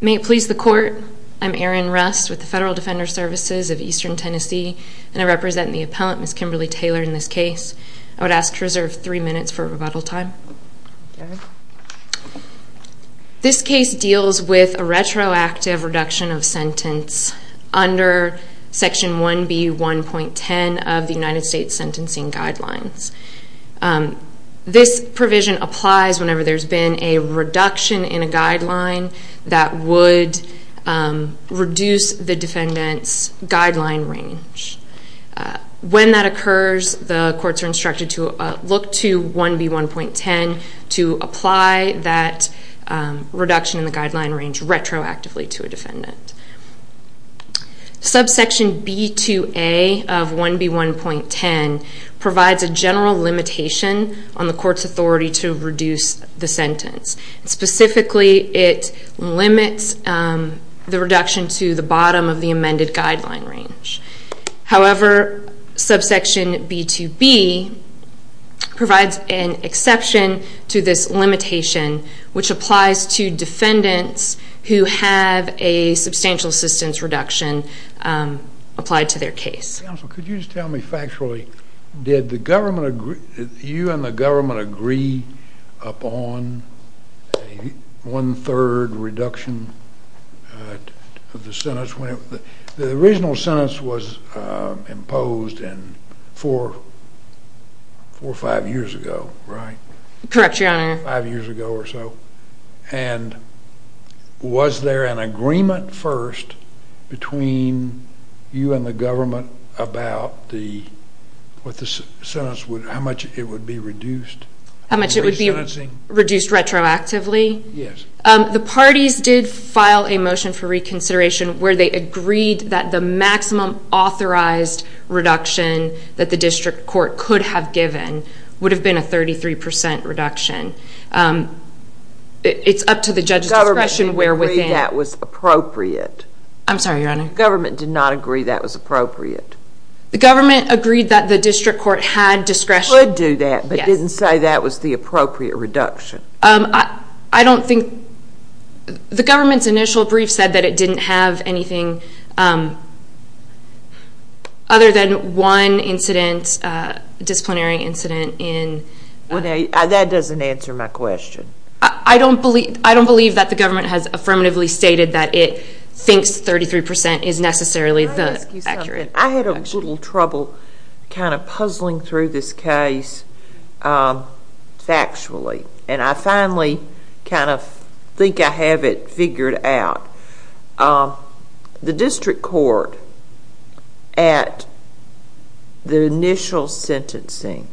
May it please the court, I'm Erin Rust with the Federal Defender Services of Eastern Tennessee and I represent the appellant, Ms. Kimberly Taylor, in this case. I would ask to reserve three minutes for rebuttal time. This case deals with a retroactive reduction of sentence under Section 1B.1.10 of the United States Sentencing Guidelines. This provision applies whenever there's been a reduction in a guideline that would reduce the defendant's guideline range. When that occurs, the courts are instructed to look to 1B.1.10 to apply that reduction in the guideline range retroactively to a defendant. Subsection B.2.A of 1B.1.10 provides a general limitation on the court's authority to reduce the sentence. Specifically, it limits the reduction to the bottom of the amended guideline range. However, subsection B.2.B provides an exception to this limitation which applies to defendants who have a substantial assistance reduction applied to their case. Counsel, could you just tell me factually, did you and the government agree upon a one-third reduction of the sentence? The original sentence was imposed four or five years ago, right? Correct, Your Honor. And was there an agreement first between you and the government about how much it would be reduced? How much it would be reduced retroactively? Yes. The parties did file a motion for reconsideration where they agreed that the maximum authorized reduction that the district court could have given would have been a 33% reduction. It's up to the judge's discretion where within... The government didn't agree that was appropriate. I'm sorry, Your Honor. The government did not agree that was appropriate. The government agreed that the district court had discretion... Could do that, but didn't say that was the appropriate reduction. I don't think... The government's initial brief said that it didn't have anything other than one incident, disciplinary incident in... That doesn't answer my question. I don't believe that the government has affirmatively stated that it thinks 33% is necessarily the accurate reduction. I had a little trouble kind of puzzling through this case factually, and I finally kind of think I have it figured out. The district court at the initial sentencing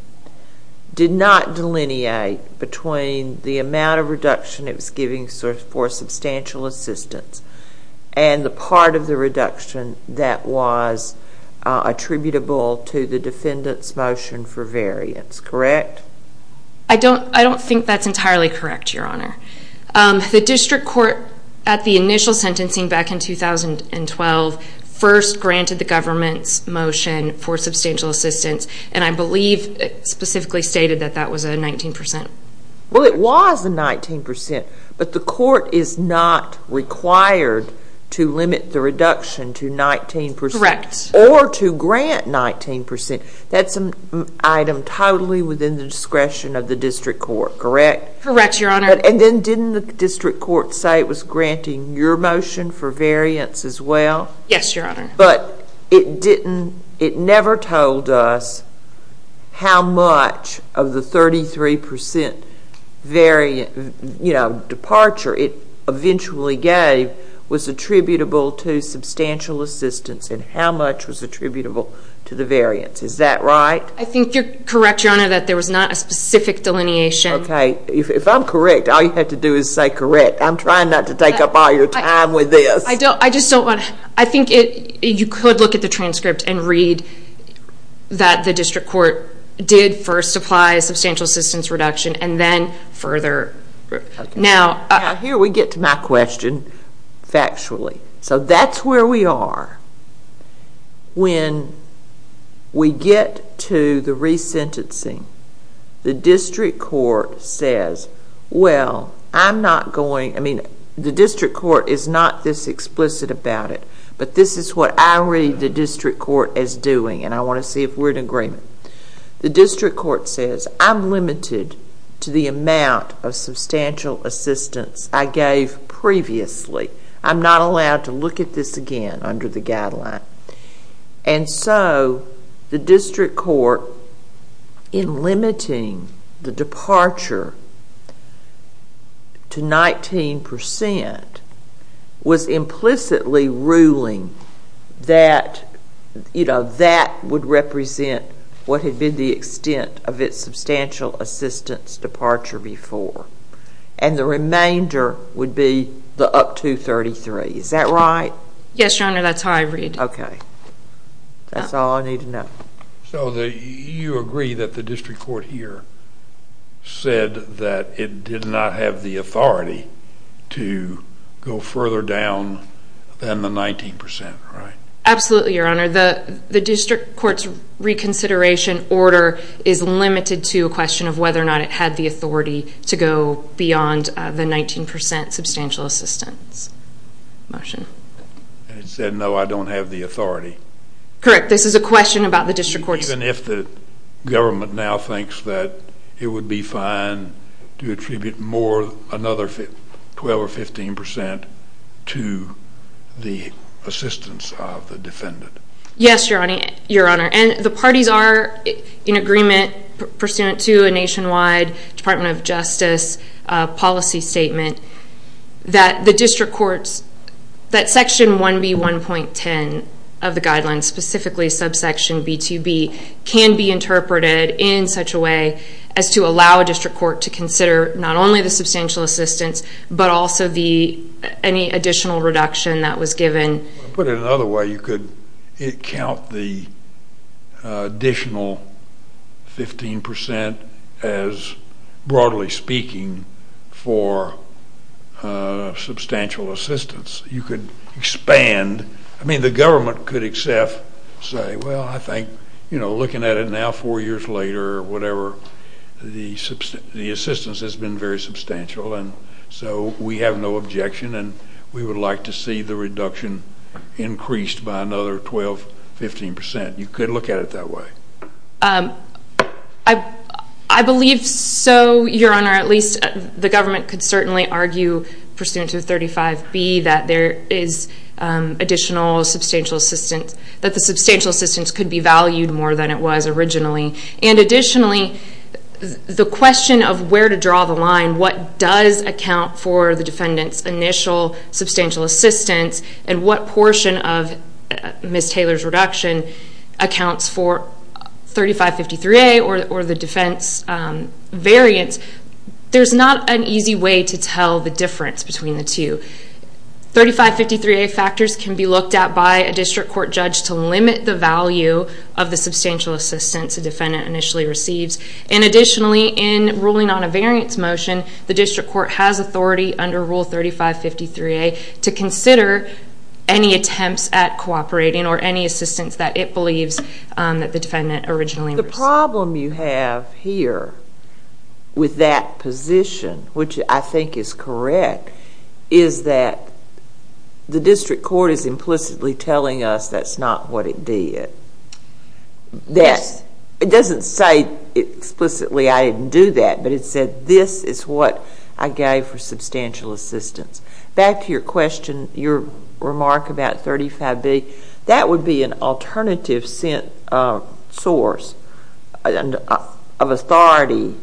did not delineate between the amount of reduction it was giving for substantial assistance and the part of the reduction that was attributable to the defendant's motion for variance, correct? I don't think that's entirely correct, Your Honor. The district court at the initial sentencing back in 2012 first granted the government's motion for substantial assistance, and I believe it specifically stated that that was a 19%. Well, it was a 19%, but the court is not required to limit the reduction to 19%. Correct. Or to grant 19%. That's an item totally within the discretion of the district court, correct? Correct, Your Honor. And then didn't the district court say it was granting your motion for variance as well? Yes, Your Honor. But it never told us how much of the 33% departure it eventually gave was attributable to substantial assistance and how much was attributable to the variance. Is that right? I think you're correct, Your Honor, that there was not a specific delineation. Okay. If I'm correct, all you have to do is say correct. I'm trying not to take up all your time with this. I just don't want to. I think you could look at the transcript and read that the district court did first apply a substantial assistance reduction and then further. Now, here we get to my question factually. So that's where we are. When we get to the resentencing, the district court says, well, I'm not going, I mean, the district court is not this explicit about it, but this is what I read the district court as doing, and I want to see if we're in agreement. The district court says, I'm limited to the amount of substantial assistance I gave previously. I'm not allowed to look at this again under the guideline. And so the district court, in limiting the departure to 19 percent, was implicitly ruling that that would represent what had been the extent of its substantial assistance departure before, and the remainder would be the up to 33. Is that right? Yes, Your Honor. That's how I read it. Okay. That's all I need to know. So you agree that the district court here said that it did not have the authority to go further down than the 19 percent, right? Absolutely, Your Honor. The district court's reconsideration order is limited to a question of whether or not it had the authority to go beyond the 19 percent substantial assistance motion. And it said, no, I don't have the authority. Correct. This is a question about the district court's- Yes, Your Honor. And the parties are in agreement pursuant to a nationwide Department of Justice policy statement that the district court's- that Section 1B1.10 of the guidelines, specifically subsection B2B, can be interpreted in such a way as to allow a district court to consider not only the substantial assistance, but also any additional reduction that was given. To put it another way, you could count the additional 15 percent as, broadly speaking, for substantial assistance. You could expand. I mean, the government could say, well, I think, you know, looking at it now four years later or whatever, the assistance has been very substantial. And so we have no objection. And we would like to see the reduction increased by another 12, 15 percent. You could look at it that way. I believe so, Your Honor. At least the government could certainly argue pursuant to 35B that there is additional substantial assistance, that the substantial assistance could be valued more than it was originally. And additionally, the question of where to draw the line, what does account for the defendant's initial substantial assistance, and what portion of Ms. Taylor's reduction accounts for 3553A or the defense variance, there's not an easy way to tell the difference between the two. 3553A factors can be looked at by a district court judge to limit the value of the substantial assistance a defendant initially receives. And additionally, in ruling on a variance motion, the district court has authority under Rule 3553A to consider any attempts at cooperating or any assistance that it believes that the defendant originally received. The problem you have here with that position, which I think is correct, is that the district court is implicitly telling us that's not what it did. It doesn't say explicitly I didn't do that, but it said this is what I gave for substantial assistance. Back to your question, your remark about 35B, that would be an alternative source of authority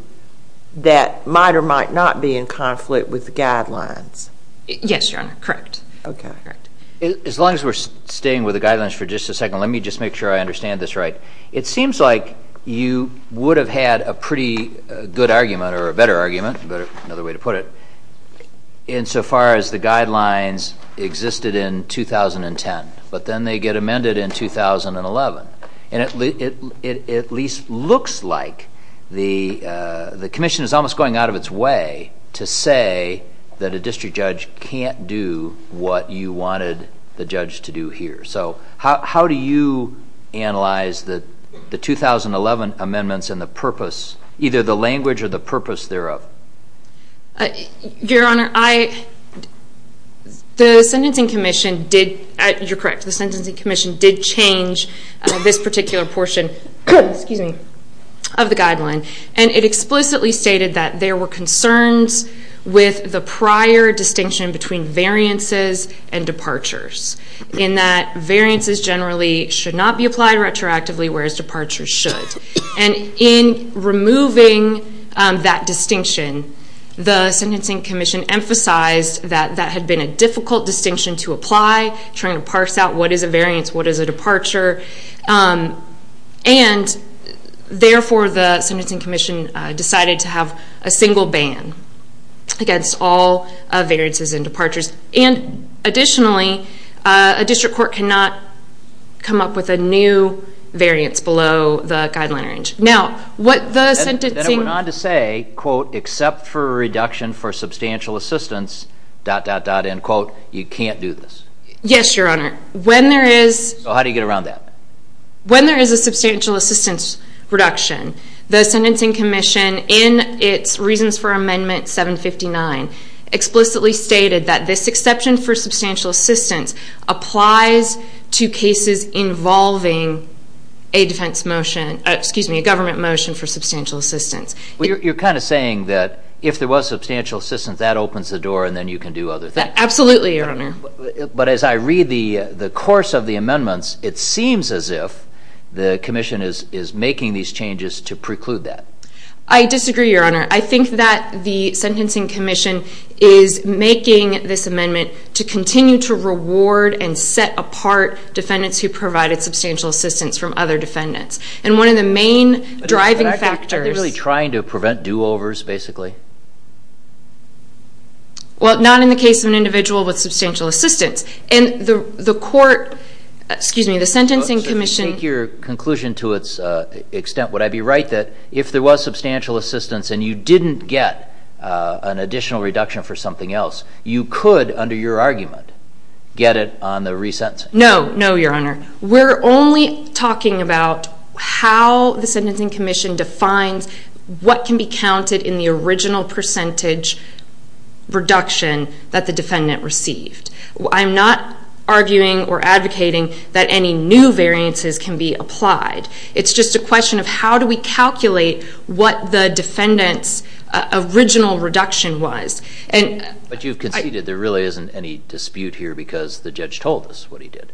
that might or might not be in conflict with the guidelines. Yes, Your Honor, correct. Okay. As long as we're staying with the guidelines for just a second, let me just make sure I understand this right. It seems like you would have had a pretty good argument or a better argument, but another way to put it, insofar as the guidelines existed in 2010, but then they get amended in 2011. And it at least looks like the commission is almost going out of its way to say that a district judge can't do what you wanted the judge to do here. So how do you analyze the 2011 amendments and the purpose, either the language or the purpose thereof? Your Honor, the Sentencing Commission did, you're correct, the Sentencing Commission did change this particular portion of the guideline. And it explicitly stated that there were concerns with the prior distinction between variances and departures, in that variances generally should not be applied retroactively, whereas departures should. And in removing that distinction, the Sentencing Commission emphasized that that had been a difficult distinction to apply, trying to parse out what is a variance, what is a departure. And therefore, the Sentencing Commission decided to have a single ban against all variances and departures. And additionally, a district court cannot come up with a new variance below the guideline range. Now, what the sentencing... Then it went on to say, quote, except for a reduction for substantial assistance, dot, dot, dot, end quote, you can't do this. Yes, Your Honor. When there is... So how do you get around that? When there is a substantial assistance reduction, the Sentencing Commission, in its Reasons for Amendment 759, explicitly stated that this exception for substantial assistance applies to cases involving a defense motion, excuse me, a government motion for substantial assistance. You're kind of saying that if there was substantial assistance, that opens the door and then you can do other things. Absolutely, Your Honor. But as I read the course of the amendments, it seems as if the Commission is making these changes to preclude that. I disagree, Your Honor. I think that the Sentencing Commission is making this amendment to continue to reward and set apart defendants who provided substantial assistance from other defendants. And one of the main driving factors... Are they really trying to prevent do-overs, basically? Well, not in the case of an individual with substantial assistance. And the court, excuse me, the Sentencing Commission... If there was substantial assistance and you didn't get an additional reduction for something else, you could, under your argument, get it on the resentencing. No, no, Your Honor. We're only talking about how the Sentencing Commission defines what can be counted in the original percentage reduction that the defendant received. I'm not arguing or advocating that any new variances can be applied. It's just a question of how do we calculate what the defendant's original reduction was. But you've conceded there really isn't any dispute here because the judge told us what he did.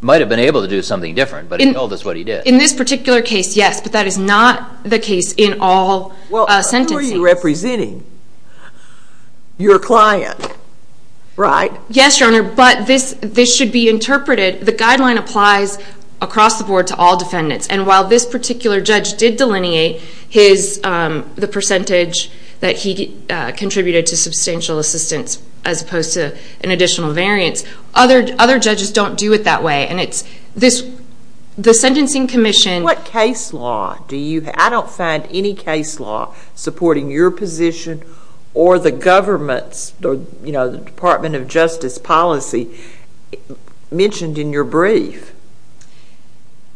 He might have been able to do something different, but he told us what he did. In this particular case, yes. But that is not the case in all sentencing. Well, who are you representing? Your client, right? Yes, Your Honor. But this should be interpreted. The guideline applies across the board to all defendants. And while this particular judge did delineate the percentage that he contributed to substantial assistance as opposed to an additional variance, other judges don't do it that way. And it's the Sentencing Commission... What case law do you have? I don't find any case law supporting your position or the government's, you know, the Department of Justice policy mentioned in your brief.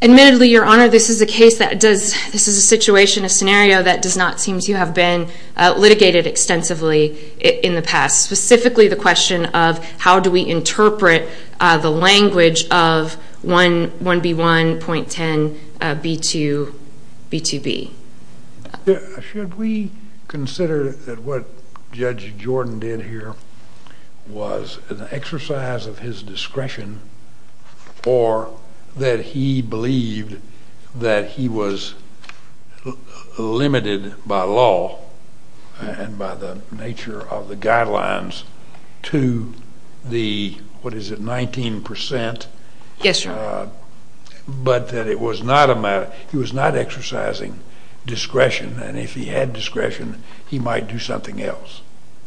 Admittedly, Your Honor, this is a case that does... This is a situation, a scenario that does not seem to have been litigated extensively in the past, specifically the question of how do we interpret the language of 1B1.10B2B2B. Should we consider that what Judge Jordan did here was an exercise of his discretion or that he believed that he was limited by law and by the nature of the guidelines to the, what is it, 19%? Yes, Your Honor. But that it was not a matter... He was not exercising discretion. And if he had discretion, he might do something else.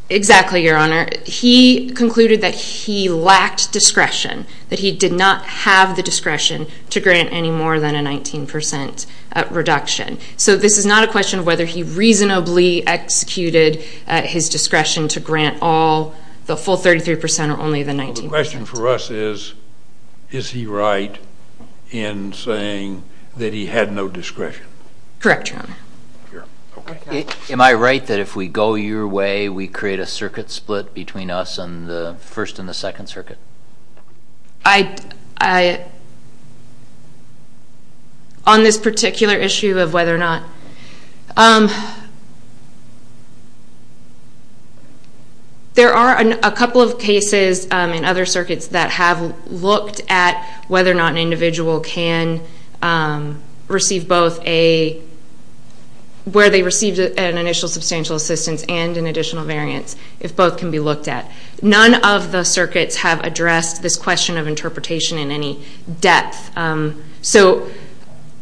Exactly, Your Honor. He concluded that he lacked discretion, that he did not have the discretion to grant any more than a 19% reduction. So this is not a question of whether he reasonably executed his discretion to grant all the full 33% or only the 19%. The question for us is, is he right in saying that he had no discretion? Correct, Your Honor. Am I right that if we go your way, we create a circuit split between us on the First and the Second Circuit? I... On this particular issue of whether or not... There are a couple of cases in other circuits that have looked at whether or not an individual can receive both a... where they received an initial substantial assistance and an additional variance, if both can be looked at. None of the circuits have addressed this question of interpretation in any depth. So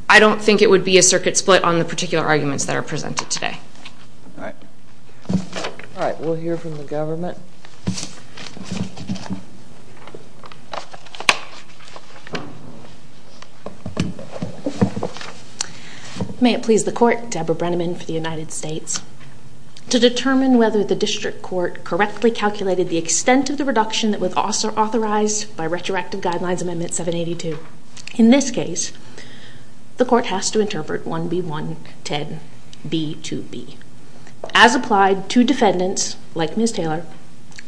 I don't think it would be a circuit split on the particular arguments that are presented today. All right. All right, we'll hear from the government. May it please the Court, Deborah Brenneman for the United States. To determine whether the district court correctly calculated the extent of the reduction that was authorized by Retroactive Guidelines Amendment 782. In this case, the court has to interpret 1B.1.10.B.2.B. As applied to defendants, like Ms. Taylor,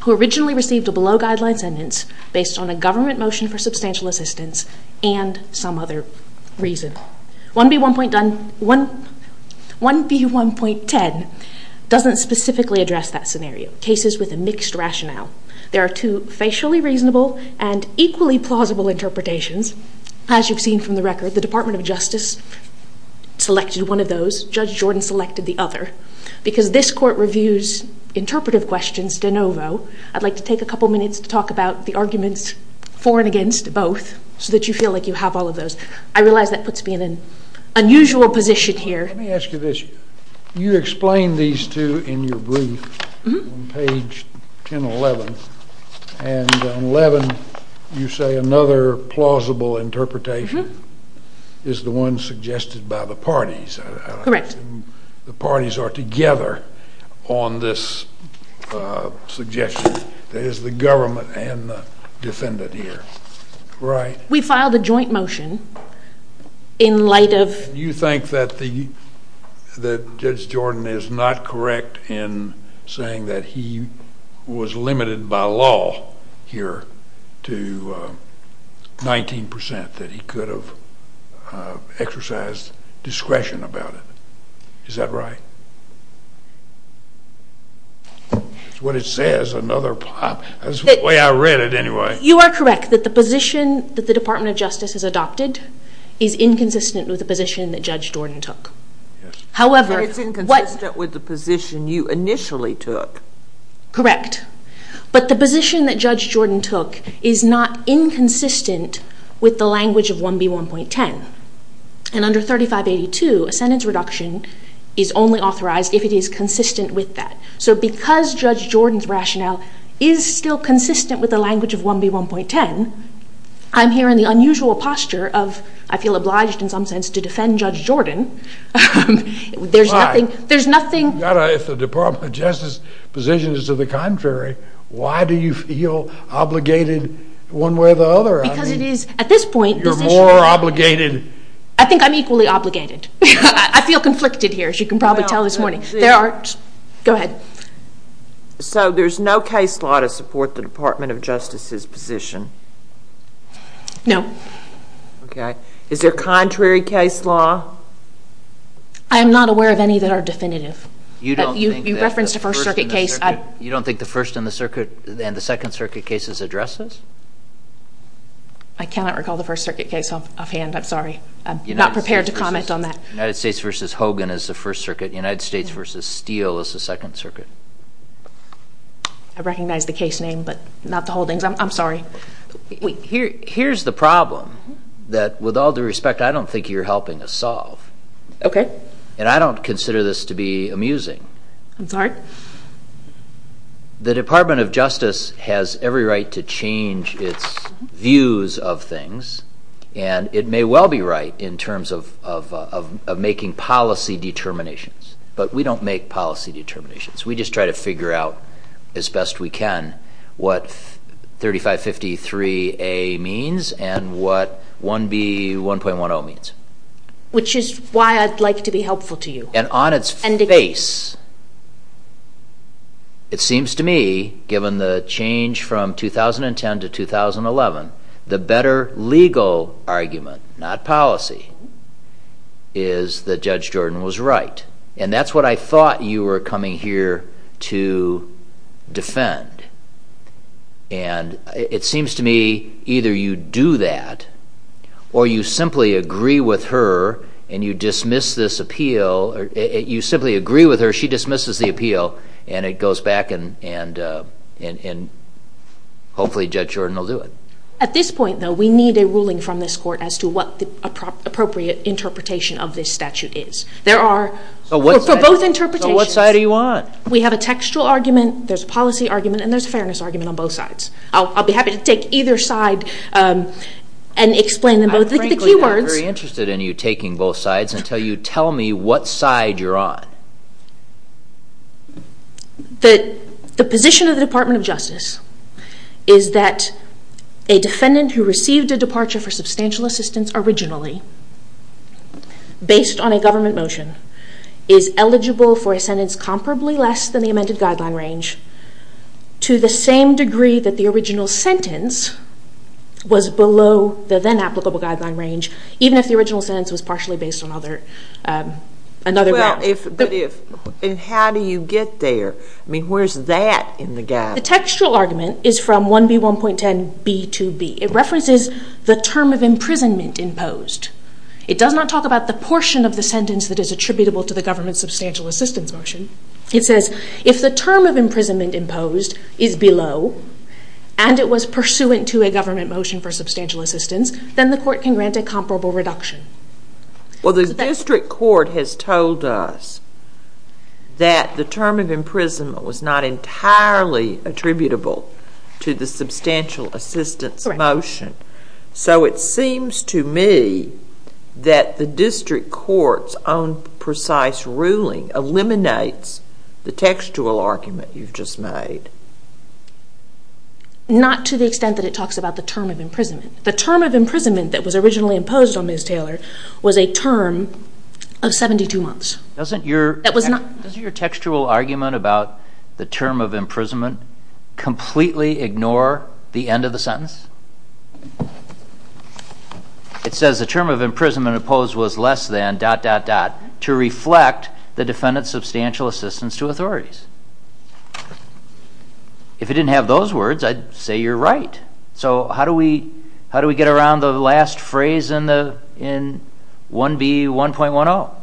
who originally received a below-guidelines sentence based on a government motion for substantial assistance and some other reason. 1B.1.10 doesn't specifically address that scenario. Cases with a mixed rationale. There are two facially reasonable and equally plausible interpretations. As you've seen from the record, the Department of Justice selected one of those. Judge Jordan selected the other. Because this court reviews interpretive questions de novo, I'd like to take a couple minutes to talk about the arguments for and against both so that you feel like you have all of those. I realize that puts me in an unusual position here. Let me ask you this. You explain these two in your brief on page 1011, and on 11 you say another plausible interpretation is the one suggested by the parties. Correct. The parties are together on this suggestion. There is the government and the defendant here, right? We filed a joint motion in light of... You think that Judge Jordan is not correct in saying that he was limited by law here to 19% that he could have exercised discretion about it. Is that right? That's what it says, another... That's the way I read it anyway. You are correct that the position that the Department of Justice has adopted is inconsistent with the position that Judge Jordan took. It's inconsistent with the position you initially took. Correct. But the position that Judge Jordan took is not inconsistent with the language of 1B1.10. Under 3582, a sentence reduction is only authorized if it is consistent with that. So because Judge Jordan's rationale is still consistent with the language of 1B1.10, I'm here in the unusual posture of I feel obliged in some sense to defend Judge Jordan. There's nothing... If the Department of Justice's position is to the contrary, why do you feel obligated one way or the other? Because it is at this point... You're more obligated. I think I'm equally obligated. I feel conflicted here, as you can probably tell this morning. There are... Go ahead. So there's no case law to support the Department of Justice's position? No. Okay. Is there contrary case law? I am not aware of any that are definitive. You referenced a First Circuit case. You don't think the First and the Second Circuit cases address this? I cannot recall the First Circuit case offhand. I'm sorry. I'm not prepared to comment on that. United States v. Hogan is the First Circuit. United States v. Steele is the Second Circuit. I recognize the case name, but not the holdings. I'm sorry. Here's the problem that, with all due respect, I don't think you're helping us solve. Okay. And I don't consider this to be amusing. I'm sorry? The Department of Justice has every right to change its views of things, and it may well be right in terms of making policy determinations, but we don't make policy determinations. We just try to figure out, as best we can, what 3553A means and what 1B1.10 means. Which is why I'd like to be helpful to you. And on its face, it seems to me, given the change from 2010 to 2011, the better legal argument, not policy, is that Judge Jordan was right. And that's what I thought you were coming here to defend. And it seems to me either you do that or you simply agree with her and you dismiss this appeal. You simply agree with her, she dismisses the appeal, and it goes back and hopefully Judge Jordan will do it. At this point, though, we need a ruling from this court as to what the appropriate interpretation of this statute is. There are for both interpretations. So what side do you want? We have a textual argument, there's a policy argument, and there's a fairness argument on both sides. I'll be happy to take either side and explain them both. Frankly, I'm very interested in you taking both sides until you tell me what side you're on. The position of the Department of Justice is that a defendant who received a departure for substantial assistance originally, based on a government motion, is eligible for a sentence comparably less than the amended guideline range, to the same degree that the original sentence was below the then applicable guideline range, even if the original sentence was partially based on other grounds. And how do you get there? I mean, where's that in the guideline? The textual argument is from 1B1.10b2b. It references the term of imprisonment imposed. It does not talk about the portion of the sentence that is attributable to the government's substantial assistance motion. It says, if the term of imprisonment imposed is below, and it was pursuant to a government motion for substantial assistance, then the court can grant a comparable reduction. Well, the district court has told us that the term of imprisonment was not entirely attributable to the substantial assistance motion. So it seems to me that the district court's own precise ruling eliminates the textual argument you've just made. Not to the extent that it talks about the term of imprisonment. The term of imprisonment that was originally imposed on Ms. Taylor was a term of 72 months. Doesn't your textual argument about the term of imprisonment completely ignore the end of the sentence? It says the term of imprisonment imposed was less than... to reflect the defendant's substantial assistance to authorities. If it didn't have those words, I'd say you're right. So how do we get around the last phrase in 1B1.10?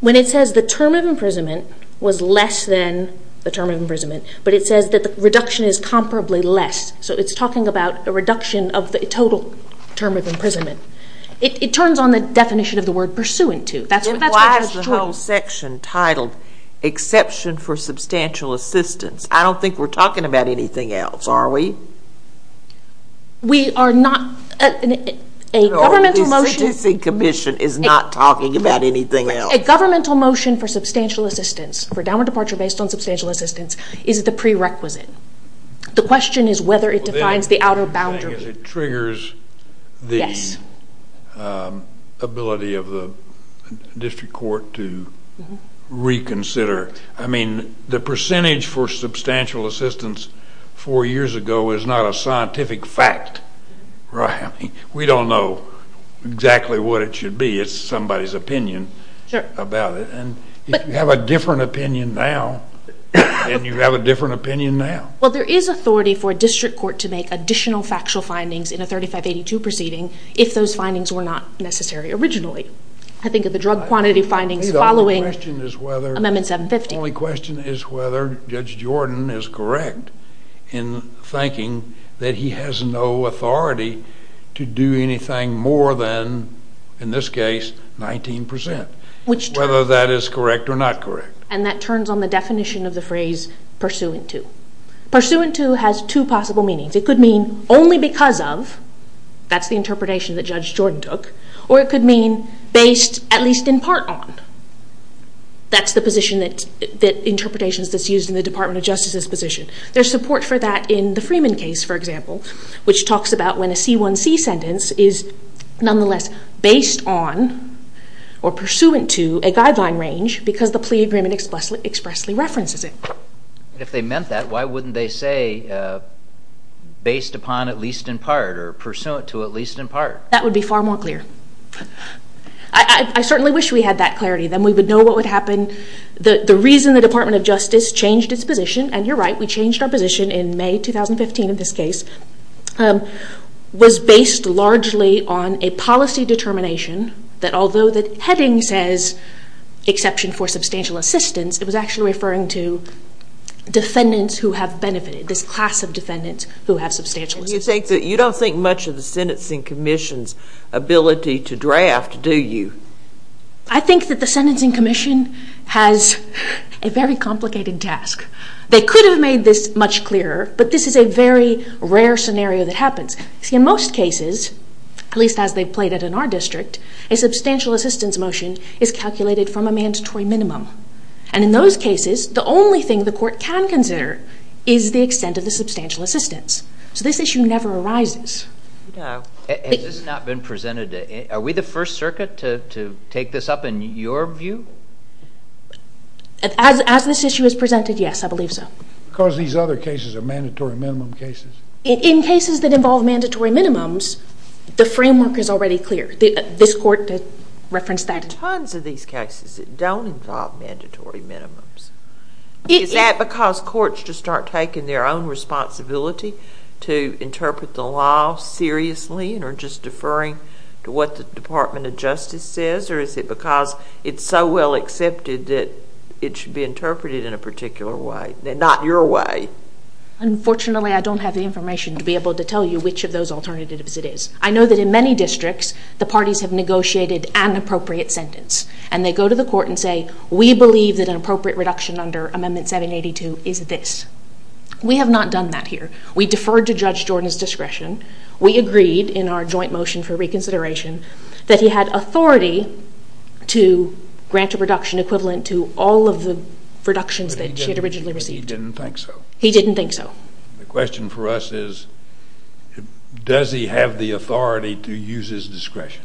When it says the term of imprisonment was less than the term of imprisonment, but it says that the reduction is comparably less. So it's talking about a reduction of the total term of imprisonment. It turns on the definition of the word pursuant to. Why is the whole section titled Exception for Substantial Assistance? I don't think we're talking about anything else, are we? We are not. A governmental motion... No, the citizen commission is not talking about anything else. A governmental motion for substantial assistance, for downward departure based on substantial assistance, is the prerequisite. The question is whether it defines the outer boundary. I guess it triggers the ability of the district court to reconsider. I mean, the percentage for substantial assistance four years ago is not a scientific fact. We don't know exactly what it should be. It's somebody's opinion about it. If you have a different opinion now, then you have a different opinion now. Well, there is authority for a district court to make additional factual findings in a 3582 proceeding if those findings were not necessary originally. I think of the drug quantity findings following Amendment 750. The only question is whether Judge Jordan is correct in thinking that he has no authority to do anything more than, in this case, 19%, whether that is correct or not correct. And that turns on the definition of the phrase pursuant to. Pursuant to has two possible meanings. It could mean only because of. That's the interpretation that Judge Jordan took. Or it could mean based at least in part on. That's the interpretation that's used in the Department of Justice's position. There's support for that in the Freeman case, for example, which talks about when a C1C sentence is, nonetheless, based on or pursuant to a guideline range because the plea agreement expressly references it. If they meant that, why wouldn't they say based upon at least in part or pursuant to at least in part? That would be far more clear. I certainly wish we had that clarity. Then we would know what would happen. The reason the Department of Justice changed its position, and you're right, we changed our position in May 2015 in this case, was based largely on a policy determination that although the heading says exception for substantial assistance, it was actually referring to defendants who have benefited, this class of defendants who have substantial assistance. You don't think much of the Sentencing Commission's ability to draft, do you? I think that the Sentencing Commission has a very complicated task. They could have made this much clearer, but this is a very rare scenario that happens. In most cases, at least as they've played it in our district, a substantial assistance motion is calculated from a mandatory minimum. In those cases, the only thing the court can consider is the extent of the substantial assistance. This issue never arises. Has this not been presented? Are we the first circuit to take this up in your view? As this issue is presented, yes, I believe so. Because these other cases are mandatory minimum cases. In cases that involve mandatory minimums, the framework is already clear. This court referenced that. Tons of these cases don't involve mandatory minimums. Is that because courts just aren't taking their own responsibility to interpret the law seriously and are just deferring to what the Department of Justice says, or is it because it's so well accepted that it should be interpreted in a particular way, not your way? Unfortunately, I don't have the information to be able to tell you which of those alternatives it is. I know that in many districts the parties have negotiated an appropriate sentence and they go to the court and say, we believe that an appropriate reduction under Amendment 782 is this. We have not done that here. We deferred to Judge Jordan's discretion. We agreed in our joint motion for reconsideration that he had authority to grant a reduction equivalent to all of the reductions that she had originally received. He didn't think so? He didn't think so. The question for us is, does he have the authority to use his discretion?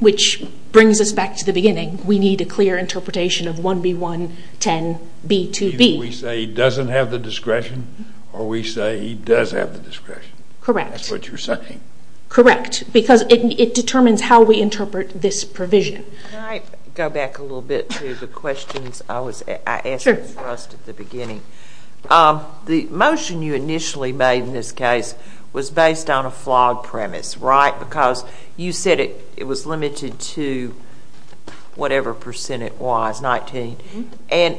Which brings us back to the beginning. We need a clear interpretation of 1B110B2B. Either we say he doesn't have the discretion or we say he does have the discretion. Correct. That's what you're saying. Correct. Because it determines how we interpret this provision. Can I go back a little bit to the questions I asked at the beginning? The motion you initially made in this case was based on a flawed premise, right? Because you said it was limited to whatever percent it was, 19. And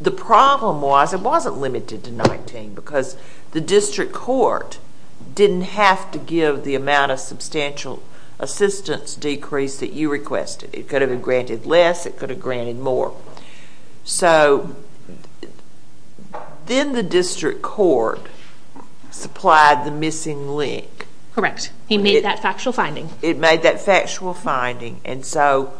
the problem was it wasn't limited to 19 because the district court didn't have to give the amount of substantial assistance decrease that you requested. It could have been granted less. It could have been granted more. So then the district court supplied the missing link. Correct. He made that factual finding. It made that factual finding. And so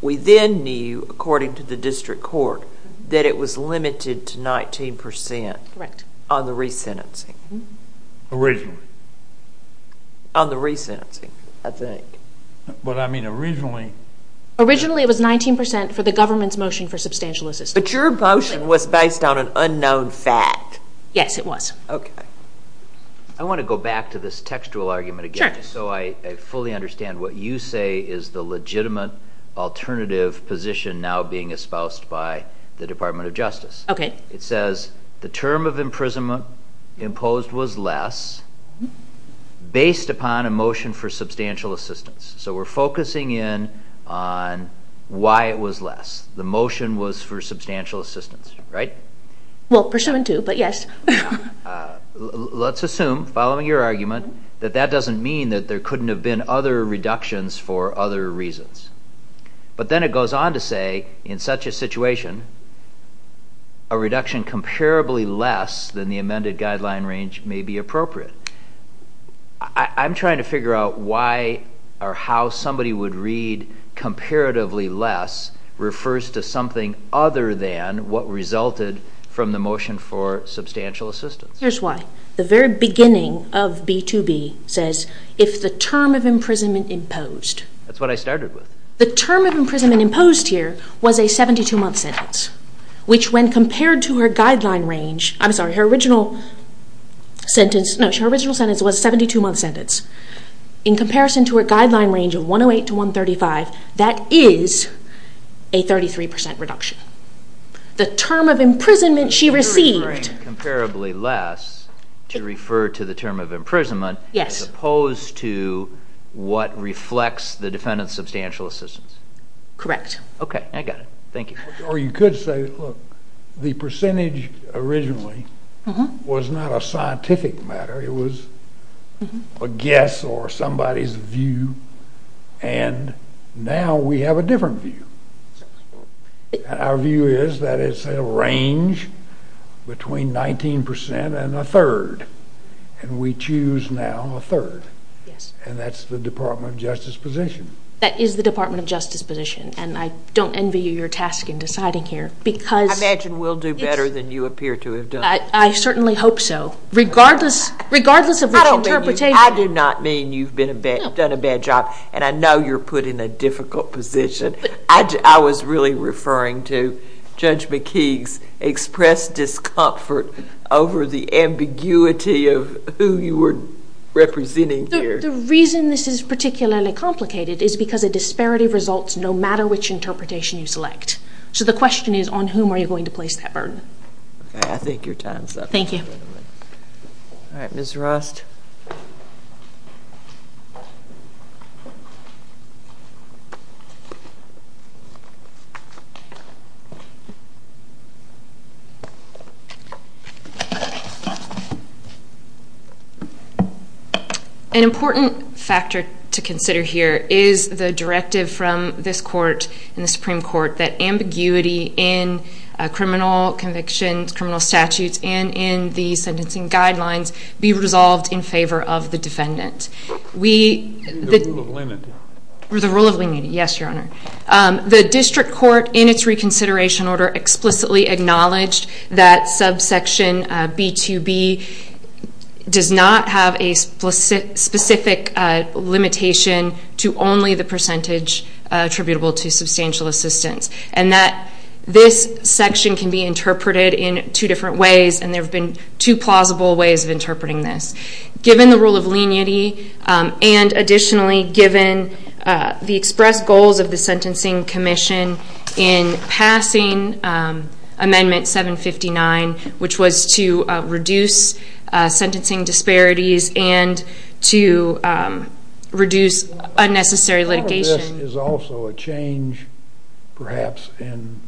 we then knew, according to the district court, that it was limited to 19% on the resentencing. Originally. On the resentencing, I think. But I mean originally. Originally it was 19% for the government's motion for substantial assistance. But your motion was based on an unknown fact. Yes, it was. Okay. I want to go back to this textual argument again. Sure. So I fully understand what you say is the legitimate alternative position now being espoused by the Department of Justice. Okay. It says the term of imprisonment imposed was less based upon a motion for substantial assistance. So we're focusing in on why it was less. The motion was for substantial assistance, right? Well, pursuant to, but yes. Let's assume, following your argument, that that doesn't mean that there couldn't have been other reductions for other reasons. But then it goes on to say, in such a situation, a reduction comparably less than the amended guideline range may be appropriate. I'm trying to figure out why or how somebody would read comparatively less refers to something other than what resulted from the motion for substantial assistance. Here's why. The very beginning of B2B says, if the term of imprisonment imposed. That's what I started with. The term of imprisonment imposed here was a 72-month sentence, which when compared to her guideline range, I'm sorry, her original sentence was a 72-month sentence. In comparison to her guideline range of 108 to 135, that is a 33% reduction. The term of imprisonment she received. Comparably less to refer to the term of imprisonment as opposed to what reflects the defendant's substantial assistance. Correct. Okay, I got it. Thank you. Or you could say, look, the percentage originally was not a scientific matter. It was a guess or somebody's view. And now we have a different view. Our view is that it's a range between 19% and a third. And we choose now a third. And that's the Department of Justice position. That is the Department of Justice position. And I don't envy you your task in deciding here. I imagine we'll do better than you appear to have done. I certainly hope so. Regardless of the interpretation. I do not mean you've done a bad job. And I know you're put in a difficult position. I was really referring to Judge McKee's expressed discomfort over the ambiguity of who you were representing here. The reason this is particularly complicated is because a disparity results no matter which interpretation you select. So the question is, on whom are you going to place that burden? Okay, I think your time is up. Thank you. All right, Ms. Rust. Ms. Rust. An important factor to consider here is the directive from this court and the Supreme Court that ambiguity in criminal convictions, criminal statutes, and in the sentencing guidelines be resolved in favor of the defendant. The rule of leniency. The rule of leniency, yes, Your Honor. The district court in its reconsideration order explicitly acknowledged that subsection B2B does not have a specific limitation to only the percentage attributable to substantial assistance and that this section can be interpreted in two different ways and there have been two plausible ways of interpreting this. Given the rule of leniency and additionally given the expressed goals of the Sentencing Commission in passing Amendment 759, which was to reduce sentencing disparities and to reduce unnecessary litigation. Part of this is also a change perhaps in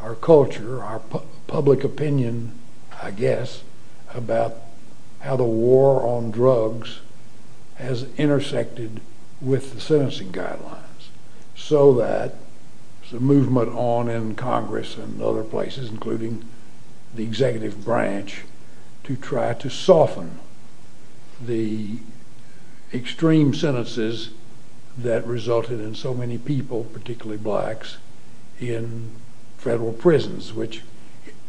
our culture, our public opinion, I guess, about how the war on drugs has intersected with the sentencing guidelines so that there's a movement on in Congress and other places, including the executive branch, to try to soften the extreme sentences that resulted in so many people, particularly blacks, in federal prisons, which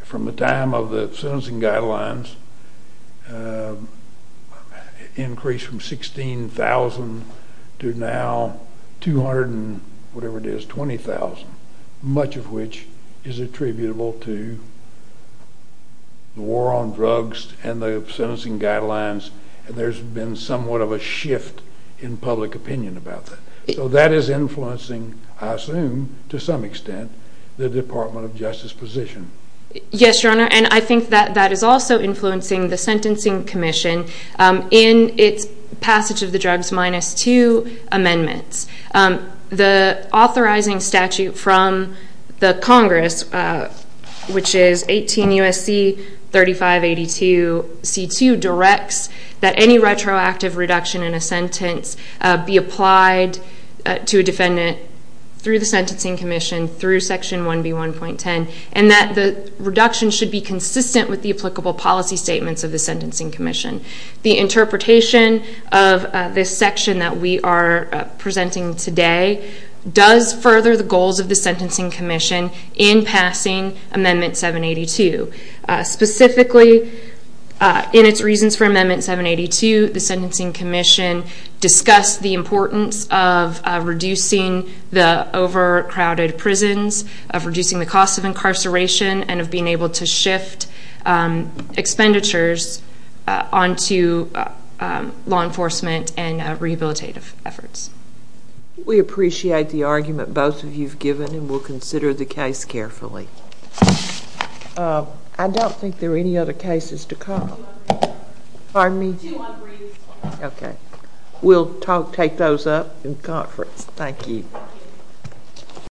from the time of the sentencing guidelines increased from 16,000 to now 220,000, much of which is attributable to the war on drugs and the sentencing guidelines and there's been somewhat of a shift in public opinion about that. So that is influencing, I assume, to some extent, the Department of Justice position. Yes, Your Honor, and I think that that is also influencing the Sentencing Commission in its passage of the drugs minus two amendments. The authorizing statute from the Congress, which is 18 U.S.C. 3582 C2, directs that any retroactive reduction in a sentence be applied to a defendant through the Sentencing Commission through Section 1B1.10 and that the reduction should be consistent with the applicable policy statements of the Sentencing Commission. The interpretation of this section that we are presenting today does further the goals of the Sentencing Commission in passing Amendment 782. Specifically, in its reasons for Amendment 782, the Sentencing Commission discussed the importance of reducing the overcrowded prisons, of reducing the cost of incarceration, and of being able to shift expenditures onto law enforcement and rehabilitative efforts. We appreciate the argument both of you have given and we'll consider the case carefully. I don't think there are any other cases to come. We'll take those up in conference. Thank you.